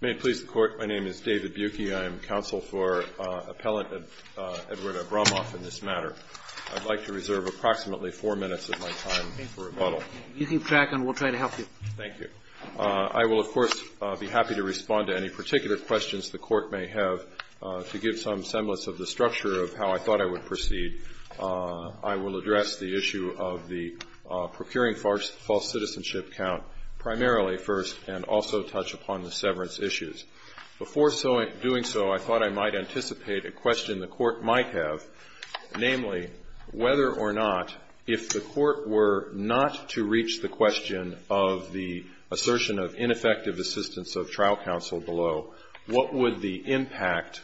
May it please the Court, my name is David Buecke. I am counsel for Appellant Edward Abramov in this matter. I'd like to reserve approximately four minutes of my time for rebuttal. You keep track and we'll try to help you. Thank you. I will, of course, be happy to respond to any particular questions the Court may have. To give some semblance of the structure of how I thought I would proceed, I will address the issue of the procuring false citizenship count primarily first and also touch upon the severance issues. Before doing so, I thought I might anticipate a question the Court might have, namely, whether or not, if the Court were not to reach the question of the assertion of ineffective assistance of trial counsel below, what would the impact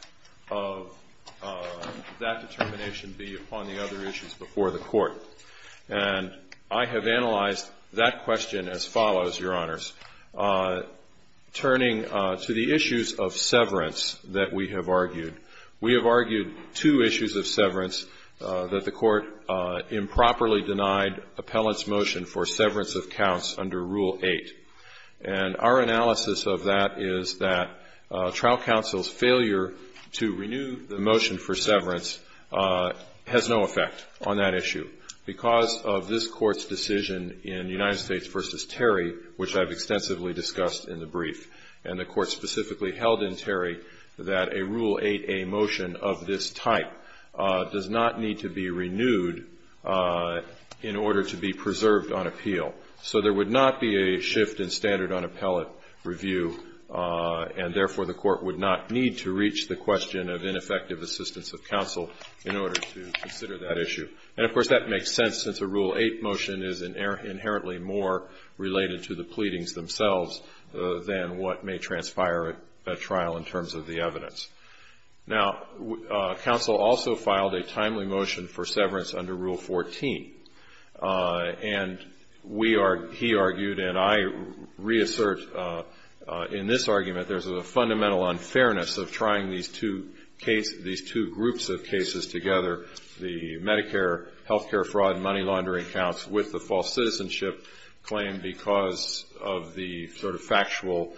of that determination be upon the other issues before the Court? And I have analyzed that question as follows, Your Honors. Turning to the issues of severance that we have argued, we have argued two issues of severance, that the Court improperly denied Appellant's motion for severance of counts under Rule 8. And our analysis of that is that trial counsel's failure to renew the motion for severance has no effect on that issue. Because of this Court's decision in United States v. Terry, which I've extensively discussed in the brief, and the Court specifically held in Terry that a Rule 8a motion of this type does not need to be renewed in order to be preserved on appeal. So there would not be a shift in standard on appellate review, and therefore the Court would not need to reach the question of ineffective assistance of counsel in order to consider that issue. And, of course, that makes sense since a Rule 8 motion is inherently more related to the pleadings themselves than what may transpire at trial in terms of the evidence. Now, counsel also filed a timely motion for severance under Rule 14. And we are, he argued, and I reassert in this argument, there's a fundamental unfairness of trying these two cases, these two groups of cases together, the Medicare health care fraud and money laundering counts with the false citizenship claim because of the sort of factual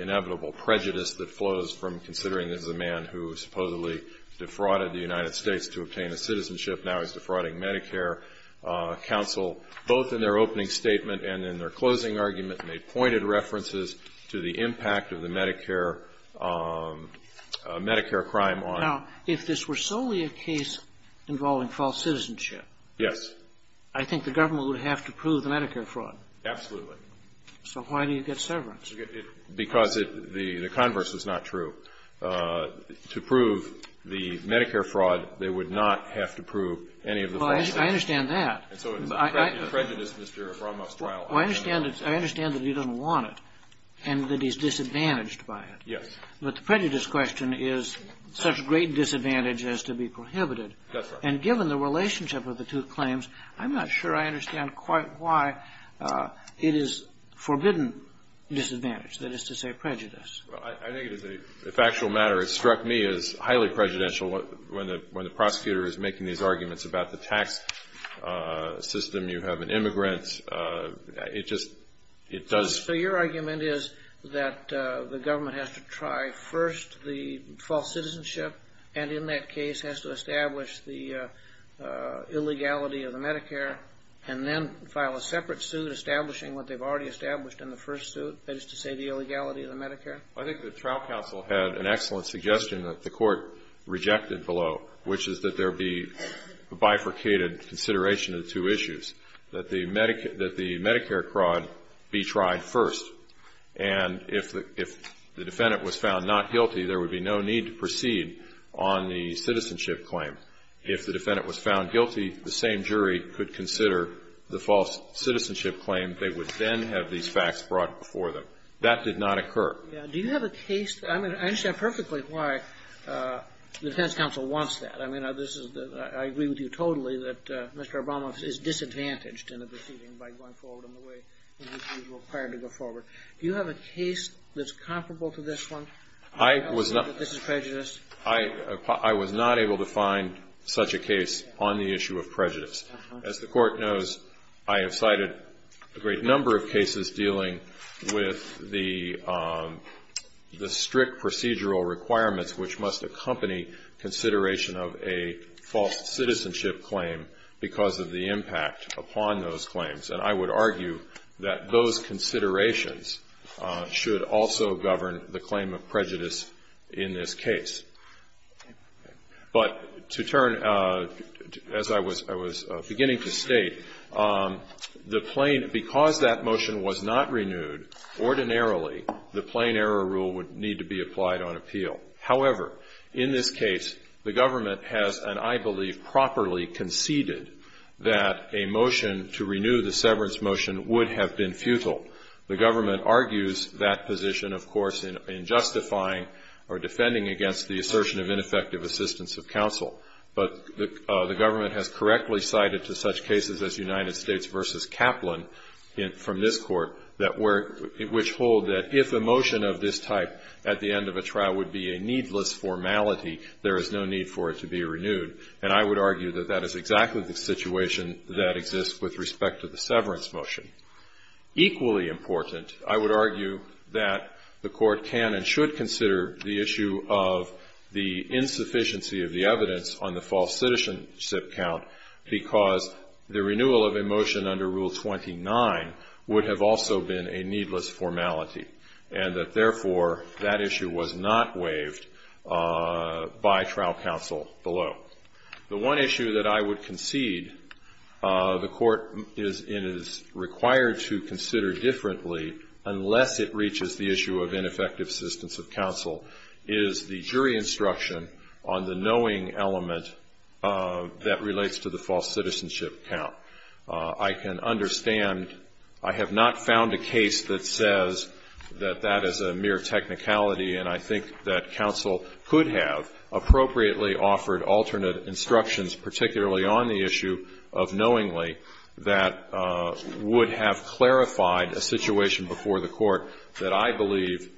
inevitable prejudice that flows from considering this is a man who supposedly defrauded the United States to obtain a citizenship, now is defrauding Medicare. Counsel, both in their opening statement and in their closing argument, made pointed references to the impact of the Medicare crime on. Now, if this were solely a case involving false citizenship. Yes. I think the government would have to prove the Medicare fraud. Absolutely. So why do you get severance? Because the converse is not true. To prove the Medicare fraud, they would not have to prove any of the false citizenship. Well, I understand that. And so it's a prejudice, Mr. Romoff's trial. Well, I understand that he doesn't want it and that he's disadvantaged by it. Yes. But the prejudice question is such great disadvantage as to be prohibited. That's right. And given the relationship of the two claims, I'm not sure I understand quite why it is forbidden disadvantage, that is to say prejudice. Well, I think it is a factual matter. It struck me as highly prejudicial when the prosecutor is making these arguments about the tax system. You have an immigrant. It just does. So your argument is that the government has to try first the false citizenship and in that case has to establish the illegality of the Medicare and then file a separate suit establishing what they've already established in the first suit, that is to say the illegality of the Medicare? Well, I think the trial counsel had an excellent suggestion that the court rejected below, which is that there be a bifurcated consideration of the two issues, that the Medicare fraud be tried first. And if the defendant was found not guilty, there would be no need to proceed on the citizenship claim. If the defendant was found guilty, the same jury could consider the false citizenship claim. They would then have these facts brought before them. That did not occur. Do you have a case? I mean, I understand perfectly why the defense counsel wants that. I mean, I agree with you totally that Mr. Obama is disadvantaged in the proceeding by going forward in the way in which he was required to go forward. Do you have a case that's comparable to this one? I was not able to find such a case on the issue of prejudice. As the Court knows, I have cited a great number of cases dealing with the strict procedural requirements which must accompany consideration of a false citizenship claim because of the impact upon those claims. And I would argue that those considerations should also govern the claim of prejudice in this case. But to turn, as I was beginning to state, the plain, because that motion was not renewed, ordinarily the plain error rule would need to be applied on appeal. However, in this case, the government has, and I believe properly conceded, that a motion to renew the severance motion would have been futile. The government argues that position, of course, in justifying or defending against the assertion of ineffective assistance of counsel. But the government has correctly cited to such cases as United States v. Kaplan from this Court, which hold that if a motion of this type at the end of a trial would be a needless formality, there is no need for it to be renewed. And I would argue that that is exactly the situation that exists with respect to the severance motion. Equally important, I would argue that the Court can and should consider the issue of the insufficiency of the evidence on the false citizenship count because the renewal of a motion under Rule 29 would have also been a needless formality. And that, therefore, that issue was not waived by trial counsel below. The one issue that I would concede the Court is required to consider differently, unless it reaches the issue of ineffective assistance of counsel, is the jury instruction on the knowing element that relates to the false citizenship count. I can understand. I have not found a case that says that that is a mere technicality, and I think that counsel could have appropriately offered alternate instructions, particularly on the issue of knowingly, that would have clarified a situation before the Court that I believe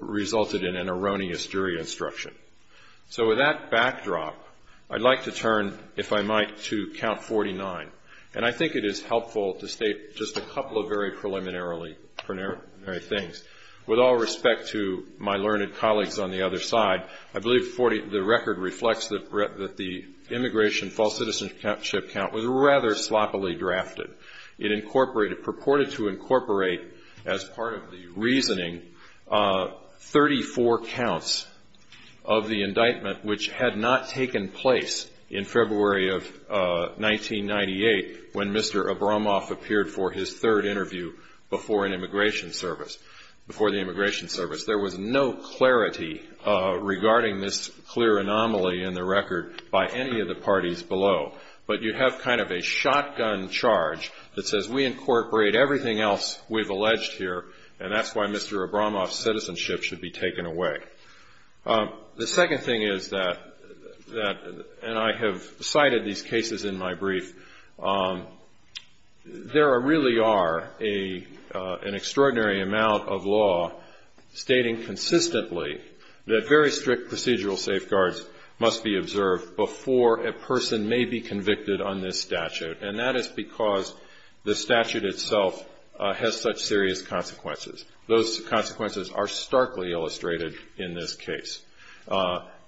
resulted in an erroneous jury instruction. So with that backdrop, I'd like to turn, if I might, to Count 49. And I think it is helpful to state just a couple of very preliminary things. With all respect to my learned colleagues on the other side, I believe the record reflects that the immigration false citizenship count was rather sloppily drafted. It incorporated, purported to incorporate as part of the reasoning, 34 counts of the indictment which had not taken place in February of 1998, when Mr. Abramoff appeared for his third interview before the Immigration Service. There was no clarity regarding this clear anomaly in the record by any of the parties below. But you have kind of a shotgun charge that says we incorporate everything else we've alleged here, and that's why Mr. Abramoff's citizenship should be taken away. The second thing is that, and I have cited these cases in my brief, there really are an extraordinary amount of law stating consistently that very strict procedural safeguards must be observed before a person may be convicted on this statute. And that is because the statute itself has such serious consequences. Those consequences are starkly illustrated in this case.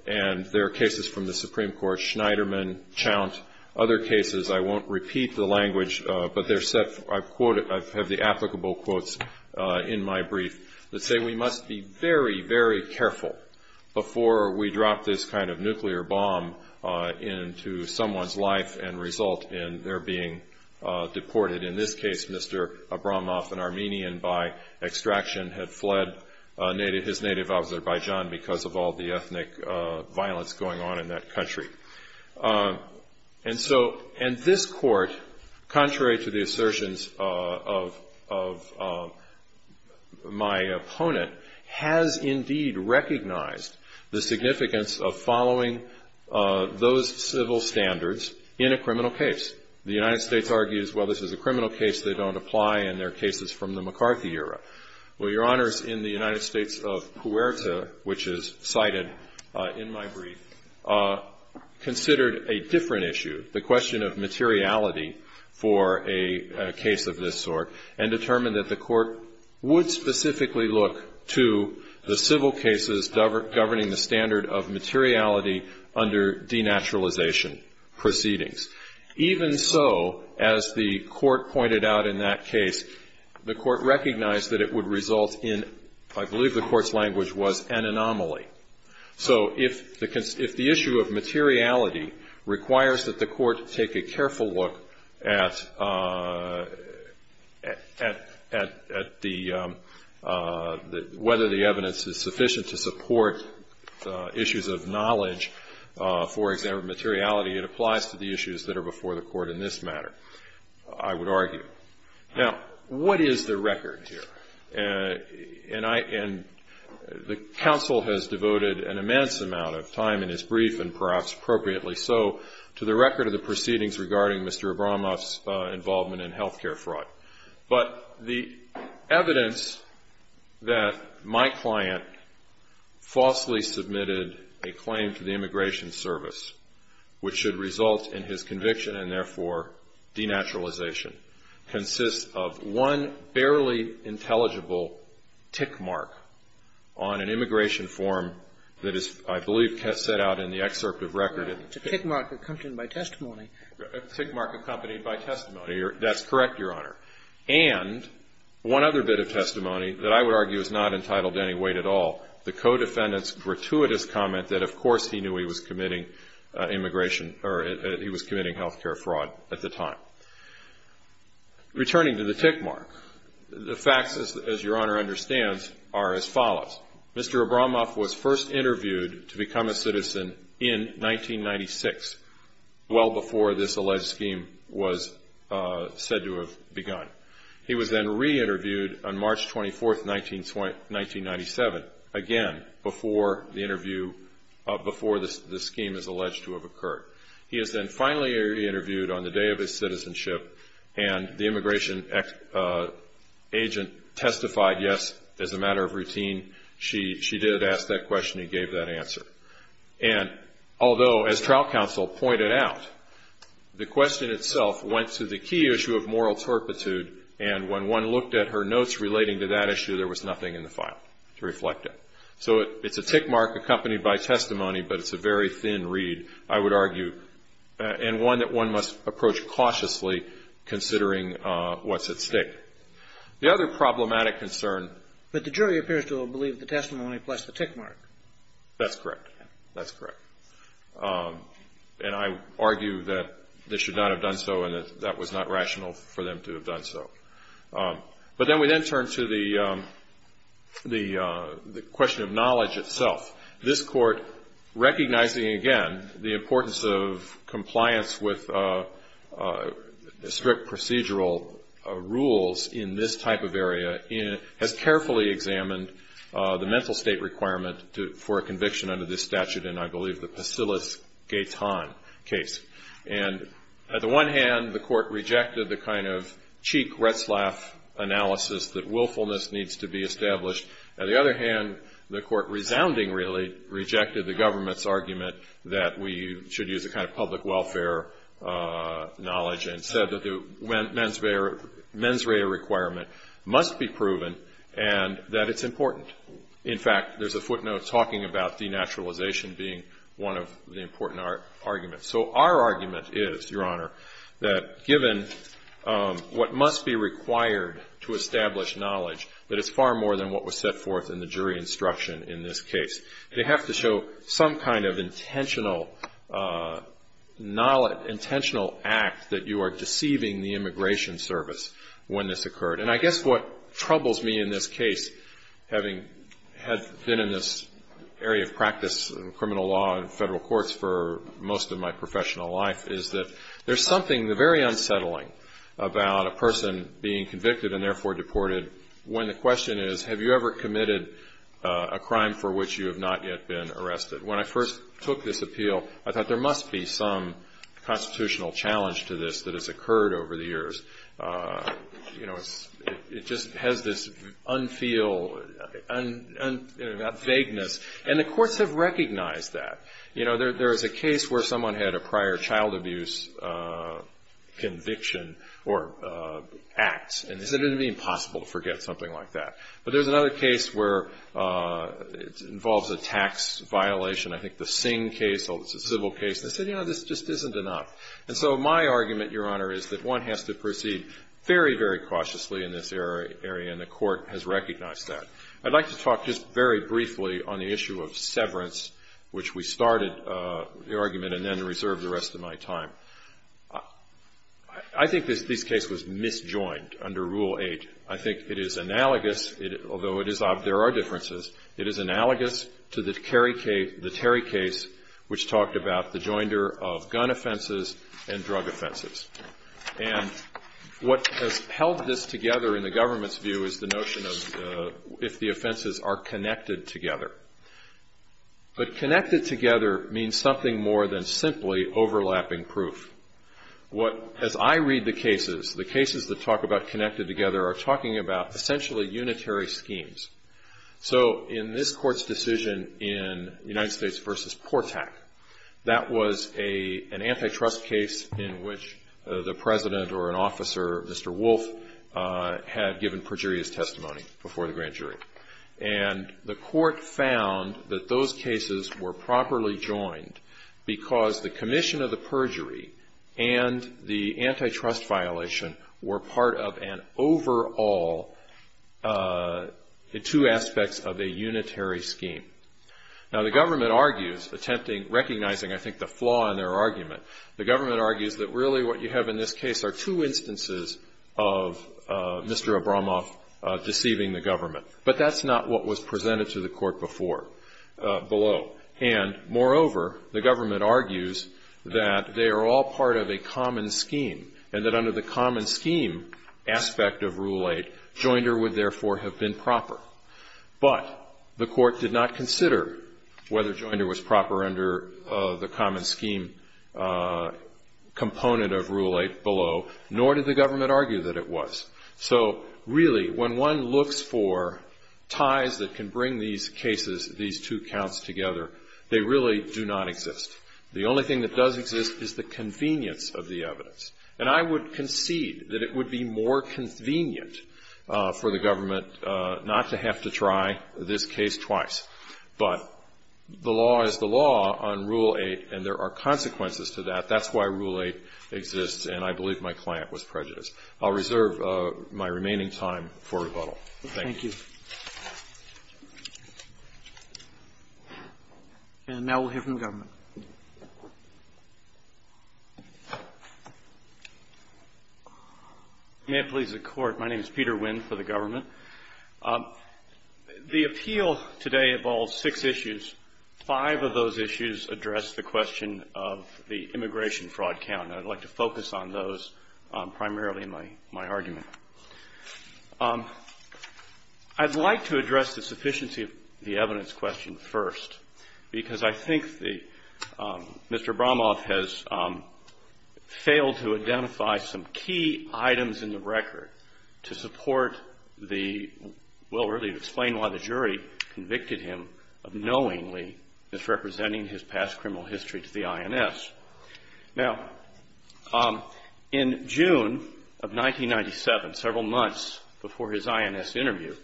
And there are cases from the Supreme Court, Schneiderman, Chount, other cases, I won't repeat the language, but they're set, I've quoted, I have the applicable quotes in my brief that say we must be very, very careful before we drop this kind of nuclear bomb into someone's life and result in their being deported. In this case, Mr. Abramoff, an Armenian by extraction, had fled his native Azerbaijan because of all the ethnic violence going on in that country. And so, and this court, contrary to the assertions of my opponent, has indeed recognized the significance of following those civil standards in a criminal case. The United States argues, well, this is a criminal case, they don't apply, and their case is from the McCarthy era. Well, Your Honors, in the United States of Puerta, which is cited in my brief, considered a different issue, the question of materiality for a case of this sort, and determined that the court would specifically look to the civil cases governing the standard of materiality under denaturalization proceedings. Even so, as the court pointed out in that case, the court recognized that it would result in, I believe the court's language was, an anomaly. So if the issue of materiality requires that the court take a careful look at whether the evidence is sufficient to support issues of knowledge, for example, materiality, it applies to the issues that are before the court in this matter, I would argue. Now, what is the record here? And the counsel has devoted an immense amount of time in his brief, and perhaps appropriately so, to the record of the proceedings regarding Mr. Abramoff's involvement in health care fraud. But the evidence that my client falsely submitted a claim to the Immigration Service, which should result in his conviction and, therefore, denaturalization, consists of one barely intelligible tick mark on an immigration form that is, I believe, set out in the excerpt of record. It's a tick mark accompanied by testimony. A tick mark accompanied by testimony. That's correct, Your Honor. And one other bit of testimony that I would argue is not entitled to any weight at all, the co-defendant's gratuitous comment that, of course, he knew he was committing health care fraud at the time. Returning to the tick mark, the facts, as Your Honor understands, are as follows. Mr. Abramoff was first interviewed to become a citizen in 1996, well before this alleged scheme was said to have begun. He was then re-interviewed on March 24, 1997, again, before the scheme is alleged to have occurred. He is then finally re-interviewed on the day of his citizenship, and the immigration agent testified, yes, as a matter of routine, she did ask that question and gave that answer. And although, as trial counsel pointed out, the question itself went to the key issue of moral torpitude, and when one looked at her notes relating to that issue, there was nothing in the file to reflect it. So it's a tick mark accompanied by testimony, but it's a very thin read, I would argue, and one that one must approach cautiously considering what's at stake. The other problematic concern. But the jury appears to have believed the testimony plus the tick mark. That's correct. That's correct. And I argue that they should not have done so and that that was not rational for them to have done so. But then we then turn to the question of knowledge itself. This Court, recognizing, again, the importance of compliance with strict procedural rules in this type of area, has carefully examined the mental state requirement for a conviction under this statute, and I believe the Pasilis-Gayton case. And at the one hand, the Court rejected the kind of cheek, Retzlaff analysis that willfulness needs to be established. At the other hand, the Court, resounding, really, rejected the government's argument that we should use a kind of public welfare knowledge and said that the mens rea requirement must be proven and that it's important. In fact, there's a footnote talking about denaturalization being one of the important arguments. So our argument is, Your Honor, that given what must be required to establish knowledge, that it's far more than what was set forth in the jury instruction in this case. They have to show some kind of intentional act that you are deceiving the Immigration Service when this occurred. And I guess what troubles me in this case, having been in this area of practice in criminal law and federal courts for most of my professional life, is that there's something very unsettling about a person being convicted and therefore deported when the question is, Have you ever committed a crime for which you have not yet been arrested? When I first took this appeal, I thought, There must be some constitutional challenge to this that has occurred over the years. It just has this unfeel, vagueness. And the courts have recognized that. You know, there is a case where someone had a prior child abuse conviction or acts, and they said it would be impossible to forget something like that. But there's another case where it involves a tax violation, I think the Singh case, although it's a civil case, and they said, You know, this just isn't enough. And so my argument, Your Honor, is that one has to proceed very, very cautiously in this area, and the court has recognized that. I'd like to talk just very briefly on the issue of severance, which we started the argument and then reserved the rest of my time. I think this case was misjoined under Rule 8. I think it is analogous, although there are differences, it is analogous to the Terry case, which talked about the joinder of gun offenses and drug offenses. And what has held this together in the government's view is the notion of if the offenses are connected together. But connected together means something more than simply overlapping proof. As I read the cases, the cases that talk about connected together are talking about essentially unitary schemes. So in this Court's decision in United States v. Portak, that was an antitrust case in which the President or an officer, Mr. Wolf, had given perjurious testimony before the grand jury. And the Court found that those cases were properly joined because the commission of the perjury and the antitrust violation were part of an overall two aspects of a unitary scheme. Now, the government argues, attempting, recognizing I think the flaw in their argument, the government argues that really what you have in this case are two instances of Mr. Abramoff deceiving the government. But that's not what was presented to the Court before, below. And moreover, the government argues that they are all part of a common scheme, and that under the common scheme aspect of Rule 8, joinder would therefore have been proper. But the Court did not consider whether joinder was proper under the common scheme component of Rule 8, below, nor did the government argue that it was. So really, when one looks for ties that can bring these cases, these two counts together, they really do not exist. The only thing that does exist is the convenience of the evidence. And I would concede that it would be more convenient for the government not to have to try this case twice. But the law is the law on Rule 8, and there are consequences to that. That's why Rule 8 exists, and I believe my client was prejudiced. I'll reserve my remaining time for rebuttal. Thank you. And now we'll hear from the government. May it please the Court. My name is Peter Winn for the government. The appeal today involves six issues. Five of those issues address the question of the immigration fraud count, and I'd like to focus on those primarily in my argument. I'd like to address the sufficiency of the evidence question first, because I think the Mr. Bromoff has failed to identify some key items in the record to support the, well, really explain why the jury convicted him of knowingly misrepresenting his past criminal history to the INS. Now, in June of 1997, several months before his INS interview,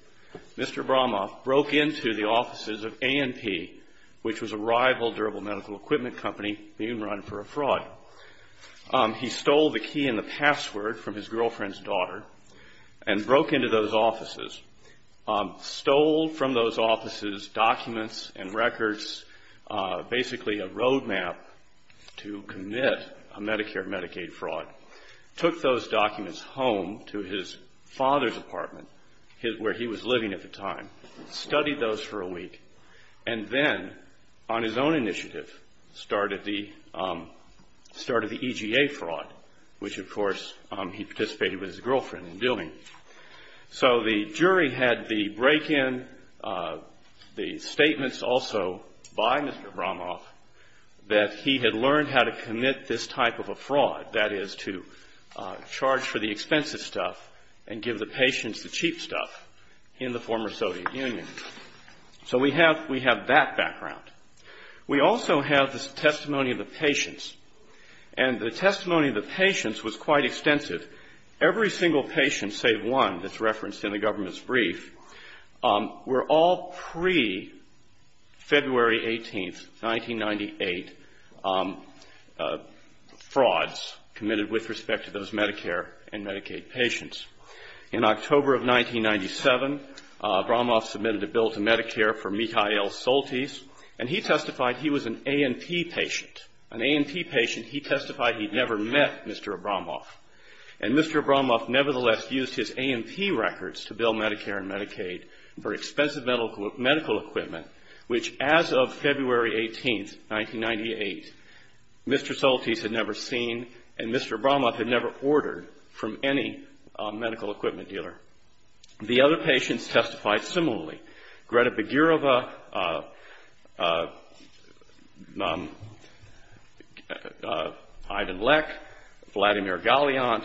Mr. Bromoff broke into the offices of A&P, which was a rival durable medical equipment company being run for a fraud. He stole the key and the password from his girlfriend's daughter and broke into those offices, stole from those offices documents and records, basically a roadmap to commit a Medicare-Medicaid fraud, took those documents home to his father's apartment where he was living at the time, studied those for a week, and then on his own initiative started the EGA fraud, which, of course, he participated with his girlfriend in doing. So the jury had the break-in, the statements also by Mr. Bromoff that he had learned how to commit this type of a fraud, that is to charge for the expensive stuff and give the patients the cheap stuff in the former Soviet Union. So we have that background. We also have the testimony of the patients, and the testimony of the patients was quite extensive. Every single patient, save one that's referenced in the government's brief, were all pre-February 18th, 1998, frauds committed with respect to those Medicare and Medicaid patients. In October of 1997, Bromoff submitted a bill to Medicare for Mikhail Soltys, and he testified he was an A&P patient. An A&P patient, he testified he'd never met Mr. Bromoff. And Mr. Bromoff nevertheless used his A&P records to bill Medicare and Medicaid for expensive medical equipment, which as of February 18th, 1998, Mr. Soltys had never seen, and Mr. Bromoff had never ordered from any medical equipment dealer. The other patients testified similarly. Greta Begirava, Ivan Lech, Vladimir Galiant,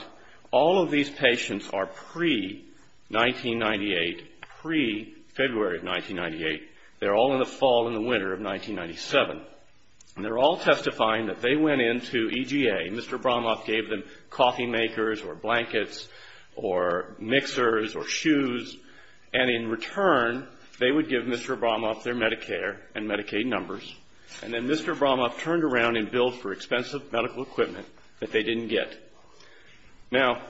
all of these patients are pre-1998, pre-February of 1998. They're all in the fall and the winter of 1997. And they're all testifying that they went into EGA. Mr. Bromoff gave them coffee makers or blankets or mixers or shoes. And in return, they would give Mr. Bromoff their Medicare and Medicaid numbers. And then Mr. Bromoff turned around and billed for expensive medical equipment that they didn't get. Now,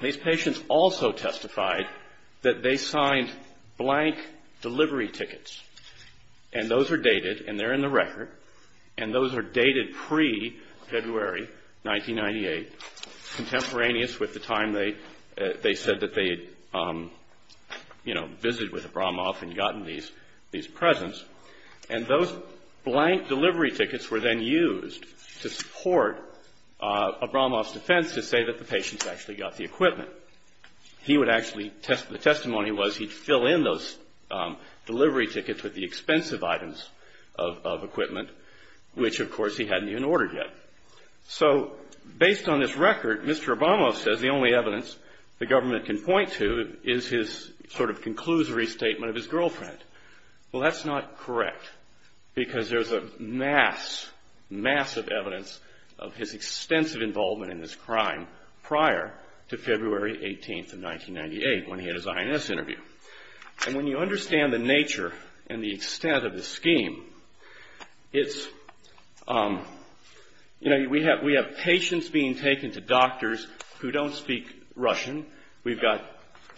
these patients also testified that they signed blank delivery tickets. And those are dated, and they're in the record. And those are dated pre-February 1998, contemporaneous with the time they said that they had, you know, visited with Bromoff and gotten these presents. And those blank delivery tickets were then used to support Bromoff's defense to say that the patients actually got the equipment. He would actually, the testimony was he'd fill in those delivery tickets with the expensive items of equipment, which, of course, he hadn't even ordered yet. So based on this record, Mr. Bromoff says the only evidence the government can point to is his sort of conclusory statement of his girlfriend. Well, that's not correct, because there's a mass, massive evidence of his extensive involvement in this crime prior to February 18th of 1998, when he had his INS interview. And when you understand the nature and the extent of the scheme, it's, you know, we have patients being taken to doctors who don't speak Russian. We've got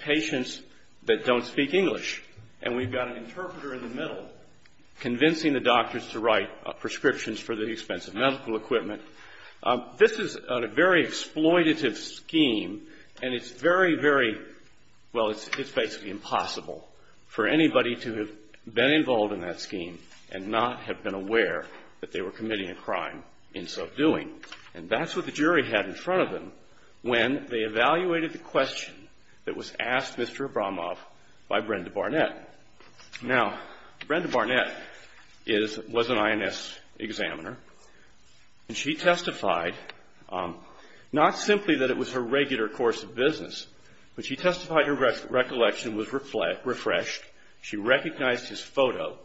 patients that don't speak English. And we've got an interpreter in the middle convincing the doctors to write prescriptions for the expensive medical equipment. This is a very exploitative scheme, and it's very, very, well, it's basically impossible for anybody to have been involved in that scheme and not have been aware that they were committing a crime in so doing. And that's what the jury had in front of them when they evaluated the question that was asked Mr. Bromoff by Brenda Barnett. Now, Brenda Barnett was an INS examiner, and she testified not simply that it was her regular course of business, but she testified her recollection was refreshed. She recognized his photo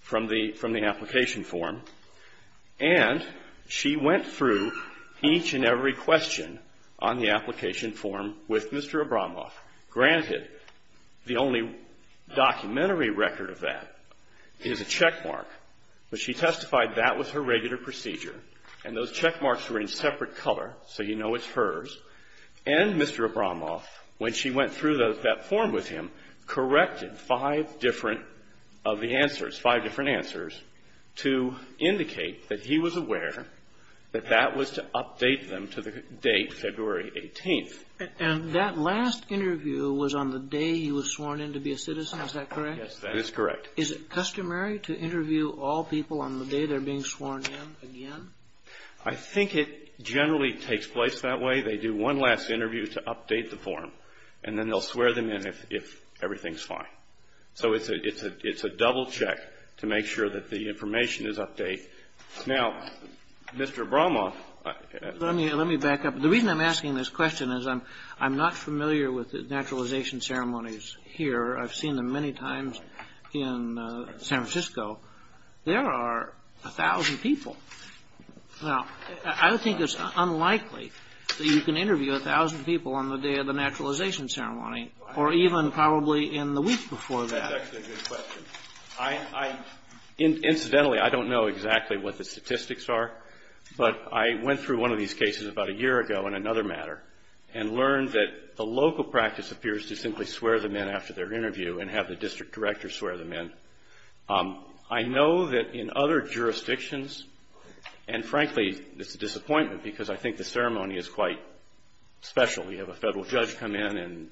from the application form. And she went through each and every question on the application form with Mr. Abramoff. Granted, the only documentary record of that is a checkmark, but she testified that was her regular procedure. And those checkmarks were in separate color so you know it's hers. And Mr. Abramoff, when she went through that form with him, corrected five different of the answers, five different answers, to indicate that he was aware that that was to update them to the date February 18th. And that last interview was on the day he was sworn in to be a citizen. Is that correct? Yes, that is correct. Is it customary to interview all people on the day they're being sworn in again? I think it generally takes place that way. They do one last interview to update the form, and then they'll swear them in if everything's fine. So it's a double check to make sure that the information is update. Now, Mr. Abramoff. Let me back up. The reason I'm asking this question is I'm not familiar with the naturalization ceremonies here. I've seen them many times in San Francisco. There are a thousand people. Well, I think it's unlikely that you can interview a thousand people on the day of the naturalization ceremony, or even probably in the week before that. That's actually a good question. Incidentally, I don't know exactly what the statistics are, but I went through one of these cases about a year ago in another matter and learned that the local practice appears to simply swear them in after their interview and have the district director swear them in. I know that in other jurisdictions, and frankly, it's a disappointment because I think the ceremony is quite special. You have a federal judge come in and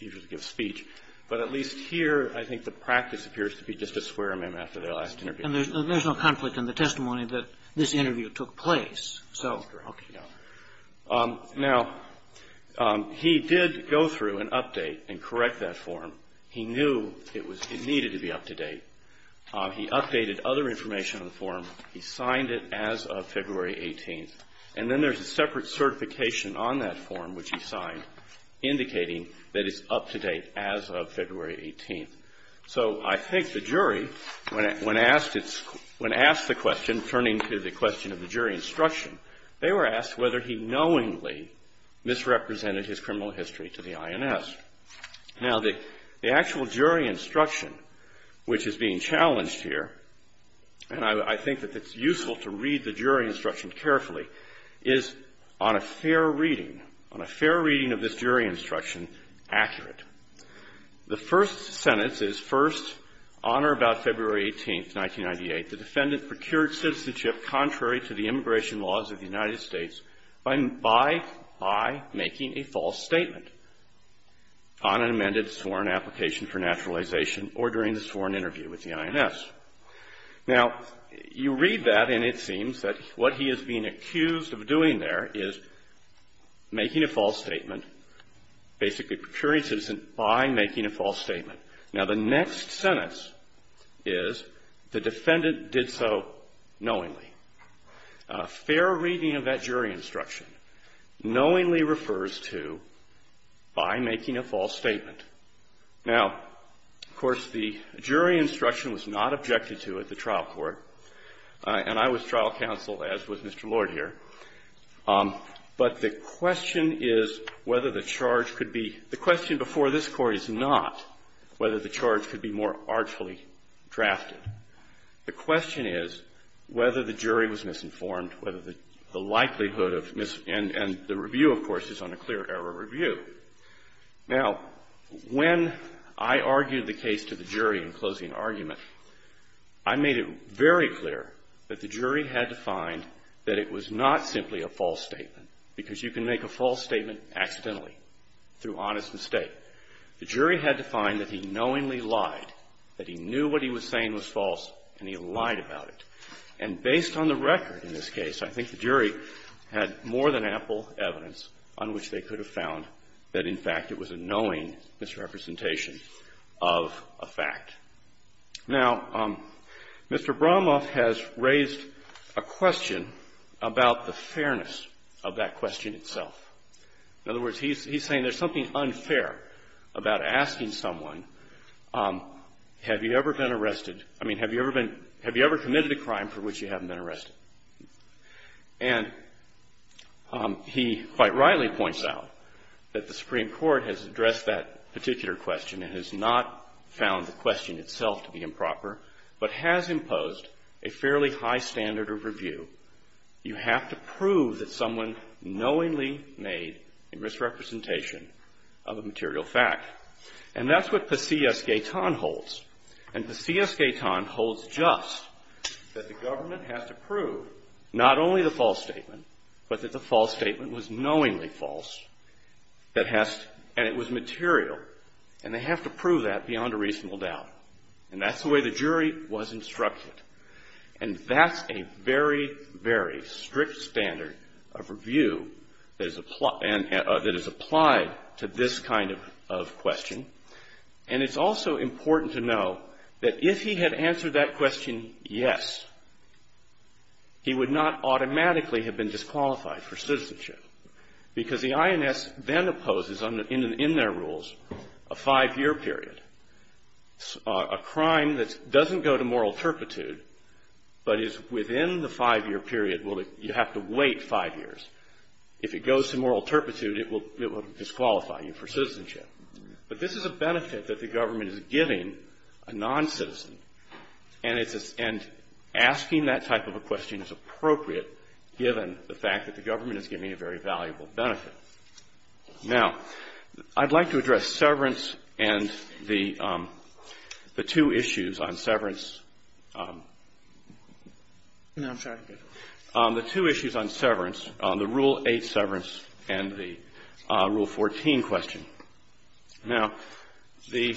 usually give a speech. But at least here, I think the practice appears to be just to swear them in after their last interview. And there's no conflict in the testimony that this interview took place. Now, he did go through and update and correct that form. He knew it needed to be up to date. He updated other information on the form. He signed it as of February 18th. And then there's a separate certification on that form, which he signed, indicating that it's up to date as of February 18th. So I think the jury, when asked the question, turning to the question of the jury instruction, they were asked whether he knowingly misrepresented his criminal history to the INS. Now, the actual jury instruction, which is being challenged here, and I think that it's useful to read the jury instruction carefully, is on a fair reading, on a fair reading of this jury instruction, accurate. The first sentence is, First, on or about February 18th, 1998, the defendant procured citizenship contrary to the immigration laws of the United States by making a false statement on an amended sworn application for naturalization or during the sworn interview with the INS. Now, you read that, and it seems that what he is being accused of doing there is making a false statement, basically procuring citizenship by making a false statement. Now, the next sentence is, The defendant did so knowingly. A fair reading of that jury instruction knowingly refers to by making a false statement. Now, of course, the jury instruction was not objected to at the trial court, and I was trial counsel, as was Mr. Lord here. But the question is whether the charge could be – the question before this Court is not whether the charge could be more artfully drafted. The question is whether the jury was misinformed, whether the likelihood of – and the review, of course, is on a clear error review. Now, when I argued the case to the jury in closing argument, I made it very clear that the jury had to find that it was not simply a false statement, because you can make a false statement accidentally through honest mistake. The jury had to find that he knowingly lied, that he knew what he was saying was false, and he lied about it. And based on the record in this case, I think the jury had more than ample evidence on which they could have found that, in fact, it was a knowing misrepresentation of a fact. Now, Mr. Bromoff has raised a question about the fairness of that question itself. In other words, he's saying there's something unfair about asking someone, have you ever been arrested – I mean, have you ever been – have you ever committed a crime for which you haven't been arrested? And he quite rightly points out that the Supreme Court has addressed that particular question and has not found the question itself to be improper, but has imposed a fairly high standard of review. You have to prove that someone knowingly made a misrepresentation of a material fact. And that's what Pesillas-Gaetan holds. And Pesillas-Gaetan holds just that the government has to prove not only the false statement, but that the false statement was knowingly false, and it was material. And they have to prove that beyond a reasonable doubt. And that's the way the jury was instructed. And that's a very, very strict standard of review that is applied to this kind of question. And it's also important to know that if he had answered that question yes, he would not automatically have been disqualified for citizenship, because the INS then opposes in their rules a five-year period, a crime that doesn't go to moral turpitude, but is within the five-year period. Well, you have to wait five years. If it goes to moral turpitude, it will disqualify you for citizenship. But this is a benefit that the government is giving a non-citizen. And asking that type of a question is appropriate, given the fact that the government is giving a very valuable benefit. Now, I'd like to address severance and the two issues on severance. No, I'm sorry. The two issues on severance, the Rule 8 severance and the Rule 14 question. Now, the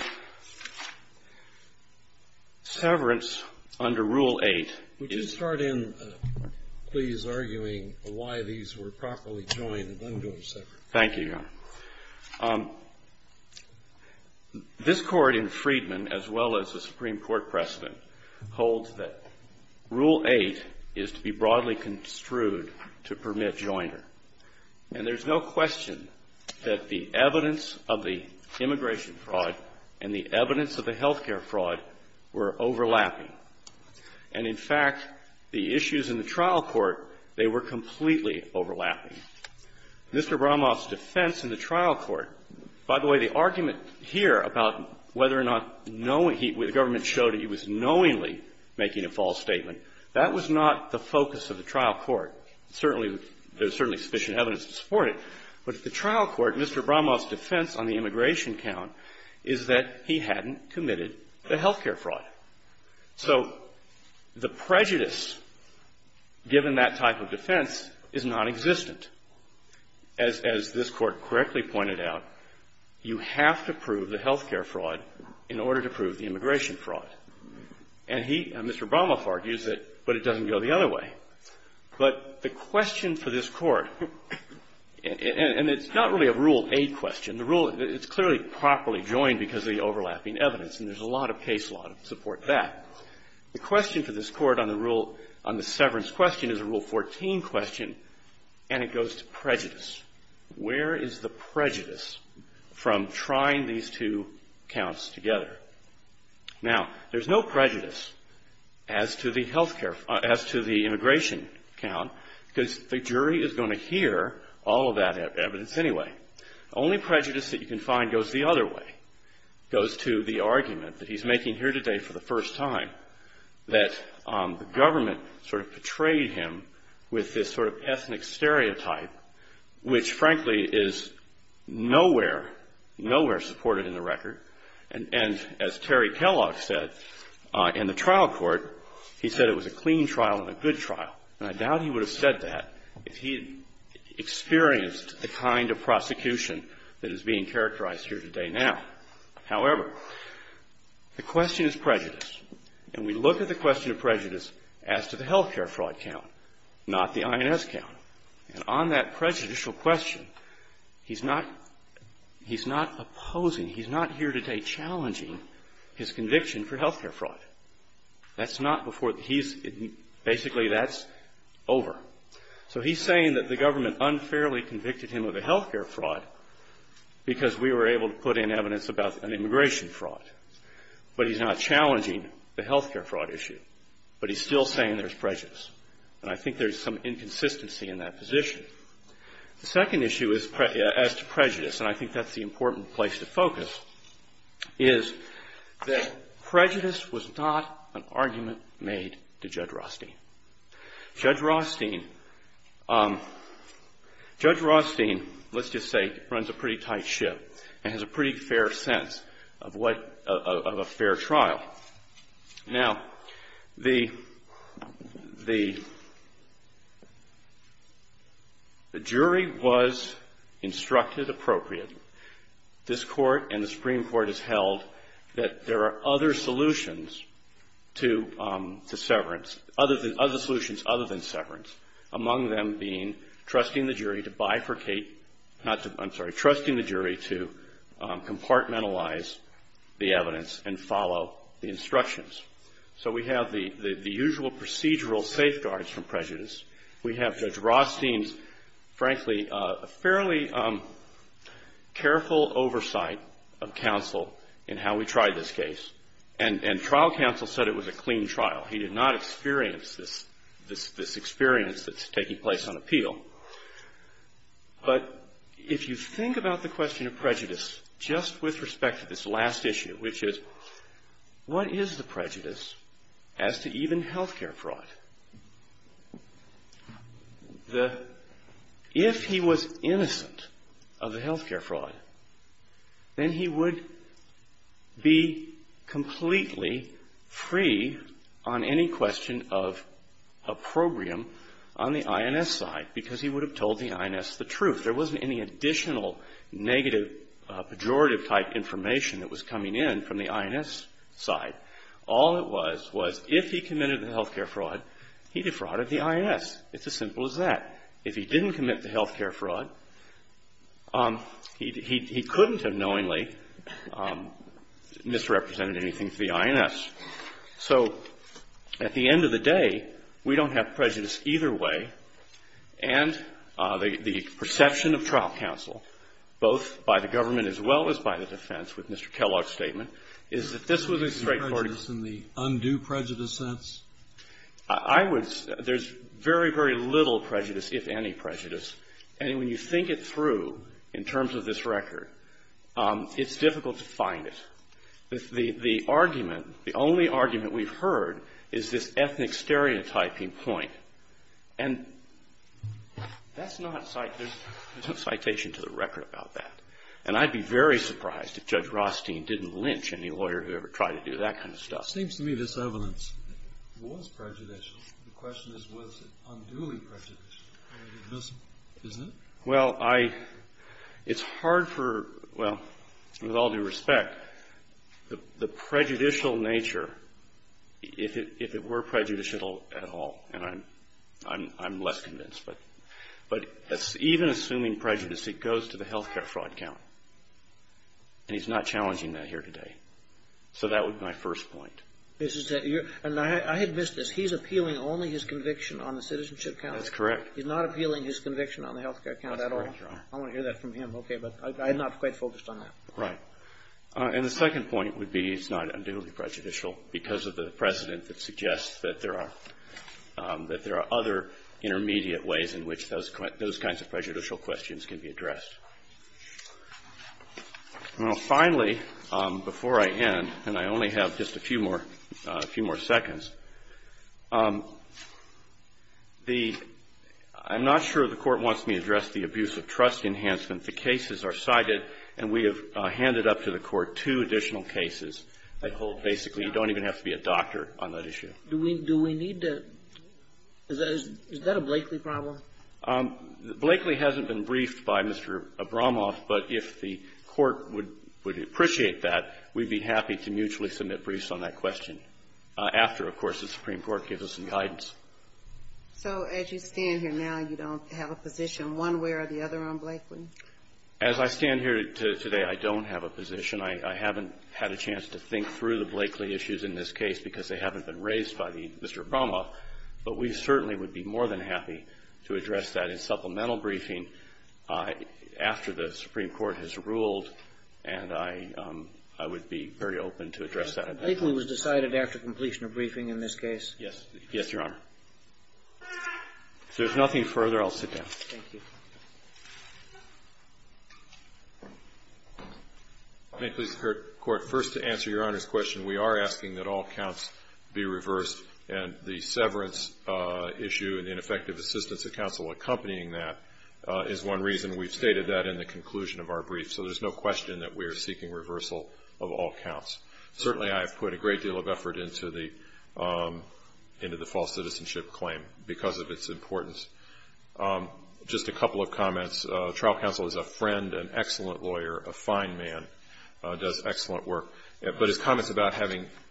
severance under Rule 8 is the one that's most important. Thank you, Your Honor. This Court in Freedman, as well as the Supreme Court precedent, holds that Rule 8 is to be broadly construed to permit joiner. And there's no question that the evidence of the immigration fraud and the evidence of the health care fraud were overlapping. And, in fact, the issues in the trial court, they were completely overlapping. Mr. Bramoff's defense in the trial court, by the way, the argument here about whether or not knowing he was, the government showed that he was knowingly making a false statement, that was not the focus of the trial court. Certainly, there's certainly sufficient evidence to support it. But at the trial court, Mr. Bramoff's defense on the immigration count is that he hadn't committed the health care fraud. So the prejudice, given that type of defense, is nonexistent. As this Court correctly pointed out, you have to prove the health care fraud in order to prove the immigration fraud. And he, Mr. Bramoff argues that, but it doesn't go the other way. But the question for this Court, and it's not really a Rule 8 question. The Rule, it's clearly properly joined because of the overlapping evidence. And there's a lot of case law to support that. The question for this Court on the rule, on the severance question, is a Rule 14 question. And it goes to prejudice. Where is the prejudice from trying these two counts together? Now, there's no prejudice as to the health care, as to the immigration count, because the jury is going to hear all of that evidence anyway. The only prejudice that you can find goes the other way, goes to the argument that he's making here today for the first time, that the government sort of portrayed him with this sort of ethnic stereotype, which frankly is nowhere, nowhere supported in the record. And as Terry Kellogg said in the trial court, he said it was a clean trial and a good trial. And I doubt he would have said that if he had experienced the kind of prosecution that is being characterized here today now. However, the question is prejudice. And we look at the question of prejudice as to the health care fraud count, not the INS count. And on that prejudicial question, he's not opposing, he's not here today challenging his conviction for health care fraud. That's not before he's, basically that's over. So he's saying that the government unfairly convicted him of a health care fraud because we were able to put in evidence about an immigration fraud. But he's not challenging the health care fraud issue. But he's still saying there's prejudice. And I think there's some inconsistency in that position. The second issue is, as to prejudice, and I think that's the important place to focus, is that prejudice was not an argument made to Judge Rothstein. Judge Rothstein, let's just say, runs a pretty tight ship and has a pretty fair sense of a fair trial. Now, the jury was instructed appropriately. This Court and the Supreme Court has held that there are other solutions to severance, other solutions other than severance, among them being trusting the jury to bifurcate, not to, I'm sorry, trusting the jury to compartmentalize the evidence and follow the instructions. So we have the usual procedural safeguards from prejudice. We have Judge Rothstein's, frankly, fairly careful oversight of counsel in how we tried this case. And trial counsel said it was a clean trial. He did not experience this experience that's taking place on appeal. But if you think about the question of prejudice just with respect to this last issue, which is, what is the prejudice as to even health care fraud? If he was innocent of the health care fraud, then he would be completely free on any question of opprobrium on the INS side because he would have told the INS the truth. There wasn't any additional negative pejorative-type information that was coming in from the INS side. All it was was if he committed the health care fraud, he defrauded the INS. It's as simple as that. If he didn't commit the health care fraud, he couldn't have knowingly misrepresented anything to the INS. So at the end of the day, we don't have prejudice either way. And the perception of trial counsel, both by the government as well as by the defense with Mr. Kellogg's statement, is that this was a straightforward case. Kennedy. Is there prejudice in the undue prejudice sense? I would say there's very, very little prejudice, if any prejudice. And when you think it through in terms of this record, it's difficult to find it. The argument, the only argument we've heard is this ethnic stereotyping point. And that's not citation to the record about that. And I'd be very surprised if Judge Rothstein didn't lynch any lawyer who ever tried to do that kind of stuff. It seems to me this evidence was prejudicial. The question is was it unduly prejudicial. Isn't it? Well, it's hard for, well, with all due respect, the prejudicial nature, if it were prejudicial at all, and I'm less convinced, but even assuming prejudice, it goes to the health care fraud count. And he's not challenging that here today. So that would be my first point. And I had missed this. He's appealing only his conviction on the citizenship count. That's correct. He's not appealing his conviction on the health care count at all. That's correct, Your Honor. I want to hear that from him. Okay. But I'm not quite focused on that. Right. And the second point would be it's not unduly prejudicial because of the precedent that suggests that there are other intermediate ways in which those kinds of prejudicial questions can be addressed. Now, finally, before I end, and I only have just a few more, a few more seconds, the — I'm not sure the Court wants me to address the abuse of trust enhancement. The cases are cited, and we have handed up to the Court two additional cases that hold basically you don't even have to be a doctor on that issue. Do we need to — is that a Blakely problem? Blakely hasn't been briefed by Mr. Abramoff. But if the Court would appreciate that, we'd be happy to mutually submit briefs on that question after, of course, the Supreme Court gives us some guidance. So as you stand here now, you don't have a position one way or the other on Blakely? As I stand here today, I don't have a position. I haven't had a chance to think through the Blakely issues in this case because they haven't been raised by Mr. Abramoff. But we certainly would be more than happy to address that in supplemental briefing after the Supreme Court has ruled, and I would be very open to address that. Blakely was decided after completion of briefing in this case? Yes. Yes, Your Honor. If there's nothing further, I'll sit down. Thank you. May it please the Court, first to answer Your Honor's question, we are asking that all counts be reversed and the severance issue and ineffective assistance of counsel accompanying that is one reason. We've stated that in the conclusion of our brief. So there's no question that we are seeking reversal of all counts. Certainly I have put a great deal of effort into the false citizenship claim because of its importance. Just a couple of comments. Trial counsel is a friend, an excellent lawyer, a fine man, does excellent work. But his comments about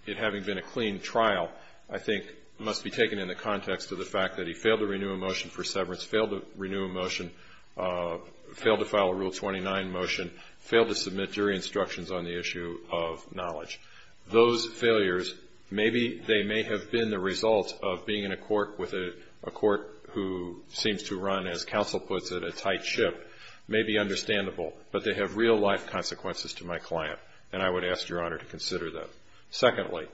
it having been a clean trial, I think, must be taken in the context of the fact that he failed to renew a motion for severance, failed to renew a motion, failed to file a Rule 29 motion, failed to submit jury instructions on the issue of knowledge. Those failures, maybe they may have been the result of being in a court with a court who seems to run, as counsel puts it, a tight ship, may be understandable. But they have real-life consequences to my client. And I would ask Your Honor to consider that. Secondly,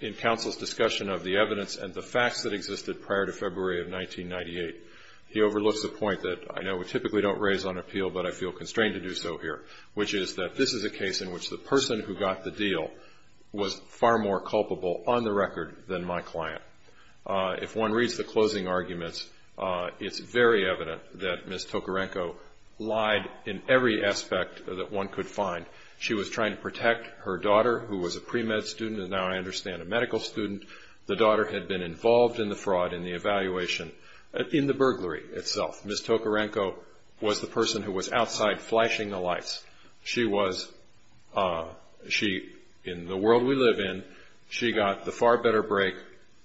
in counsel's discussion of the evidence and the facts that existed prior to February of 1998, he overlooks the point that I know we typically don't raise on appeal, but I feel constrained to do so here, which is that this is a case in which the person who got the deal was far more culpable on the record than my client. If one reads the closing arguments, it's very evident that Ms. Tokarenko lied in every aspect that one could find. She was trying to protect her daughter, who was a pre-med student and now, I understand, a medical student. The daughter had been involved in the fraud, in the evaluation, in the burglary itself. Ms. Tokarenko was the person who was outside flashing the lights. She was – she – in the world we live in, she got the far better break.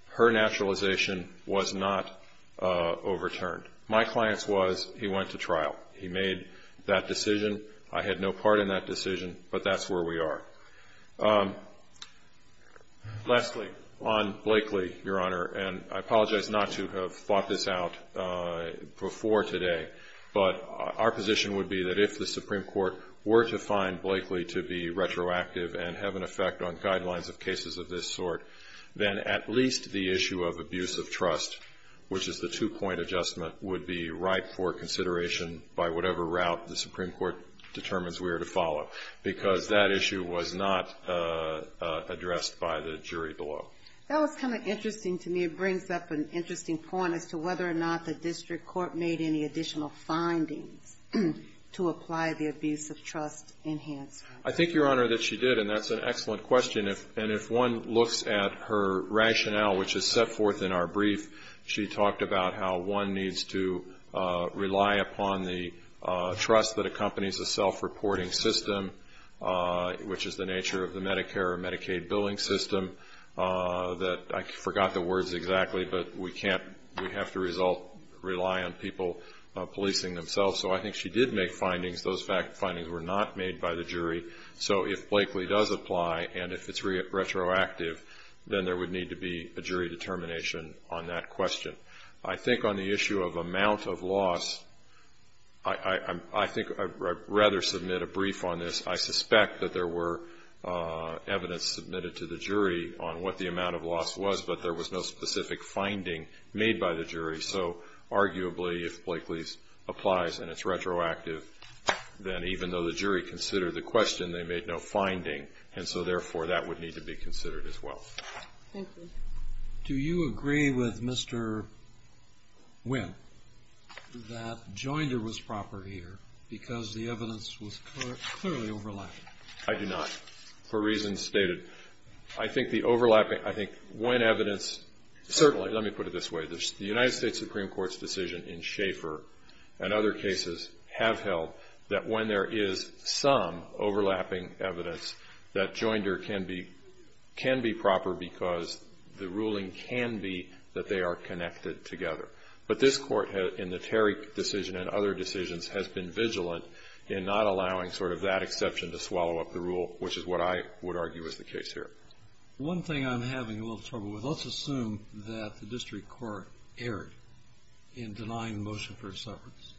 Her naturalization was not overturned. My client's was he went to trial. He made that decision. I had no part in that decision, but that's where we are. Lastly, on Blakely, Your Honor, and I apologize not to have thought this out before today, but our position would be that if the Supreme Court were to find Blakely to be retroactive and have an effect on guidelines of cases of this sort, then at least the issue of abuse of trust, which is the two-point adjustment, would be right for consideration by whatever route the Supreme Court determines we are to follow, because that issue was not addressed by the jury below. That was kind of interesting to me. It brings up an interesting point as to whether or not the district court made any additional findings to apply the abuse of trust enhancement. I think, Your Honor, that she did, and that's an excellent question. And if one looks at her rationale, which is set forth in our brief, she talked about how one needs to rely upon the trust that accompanies a self-reporting system, which is the nature of the Medicare or Medicaid billing system, that – I forgot the words exactly, but we can't – we have to rely on people policing themselves. So I think she did make findings. Those findings were not made by the jury. So if Blakely does apply and if it's retroactive, then there would need to be a jury determination on that question. I think on the issue of amount of loss, I think I'd rather submit a brief on this. I suspect that there were evidence submitted to the jury on what the amount of loss was, but there was no specific finding made by the jury. So arguably, if Blakely applies and it's retroactive, then even though the jury considered the question, they made no finding, and so therefore that would need to be considered as well. Thank you. Do you agree with Mr. Winn that Joinder was proper here because the evidence was clearly overlapping? I do not, for reasons stated. I think the overlapping – I think Winn evidence – certainly, let me put it this way. The United States Supreme Court's decision in Schaeffer and other cases have held that when there is some overlapping evidence, that Joinder can be proper because the ruling can be that they are connected together. But this Court, in the Terry decision and other decisions, has been vigilant in not allowing sort of that exception to swallow up the rule, which is what I would argue is the case here. One thing I'm having a little trouble with, let's assume that the district court erred in denying the motion for a severance.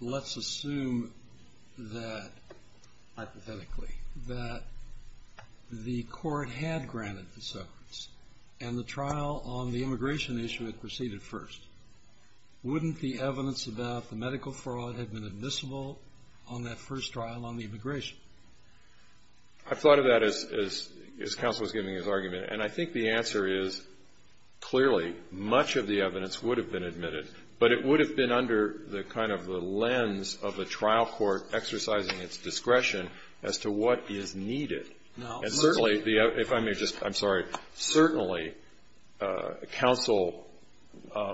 Let's assume that, hypothetically, that the court had granted the severance and the trial on the immigration issue had proceeded first. Wouldn't the evidence about the medical fraud have been admissible on that first trial on the immigration? I thought of that as counsel was giving his argument, and I think the answer is, clearly, much of the evidence would have been admitted, but it would have been under the kind of the lens of a trial court exercising its discretion as to what is needed. And certainly, if I may just – I'm sorry. Certainly, counsel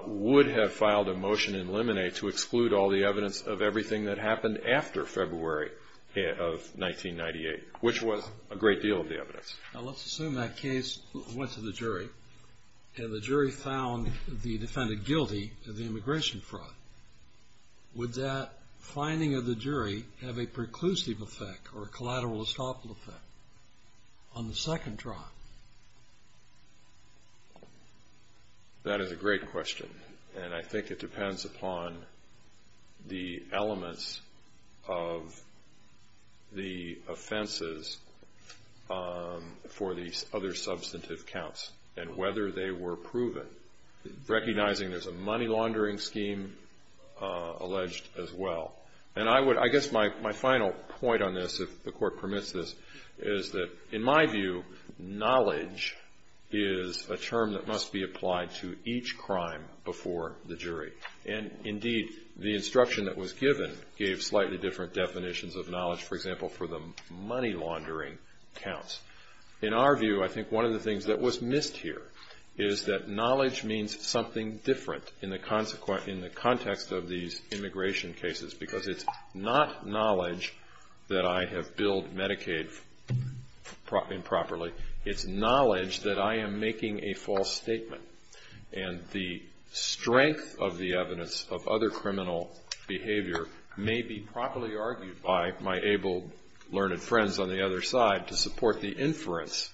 would have filed a motion in limine to exclude all the evidence of everything that happened after February of 1998, which was a great deal of the evidence. Now, let's assume that case went to the jury, and the jury found the defendant guilty of the immigration fraud. Would that finding of the jury have a preclusive effect or a collateral estoppel effect on the second trial? That is a great question, and I think it depends upon the elements of the offenses for these other substantive counts and whether they were proven, recognizing there's a money laundering scheme alleged as well. And I guess my final point on this, if the court permits this, is that, in my view, knowledge is a term that must be applied to each crime before the jury. And, indeed, the instruction that was given gave slightly different definitions of knowledge, for example, for the money laundering counts. In our view, I think one of the things that was missed here is that knowledge means something different in the context of these immigration cases because it's not knowledge that I have billed Medicaid improperly. It's knowledge that I am making a false statement, and the strength of the evidence of other criminal behavior may be properly argued by my able-learned friends on the other side to support the inference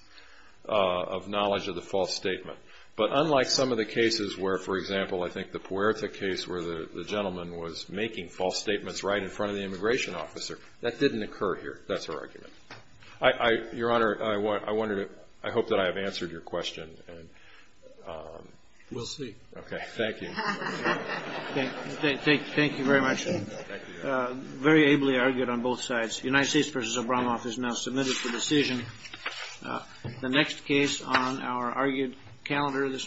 of knowledge of the false statement. But unlike some of the cases where, for example, I think the Puerta case where the gentleman was making false statements right in front of the immigration officer, that didn't occur here. That's our argument. Your Honor, I hope that I have answered your question. We'll see. Okay, thank you. Thank you very much. Very ably argued on both sides. United States v. Obramoff is now submitted for decision. The next case on our argued calendar this morning.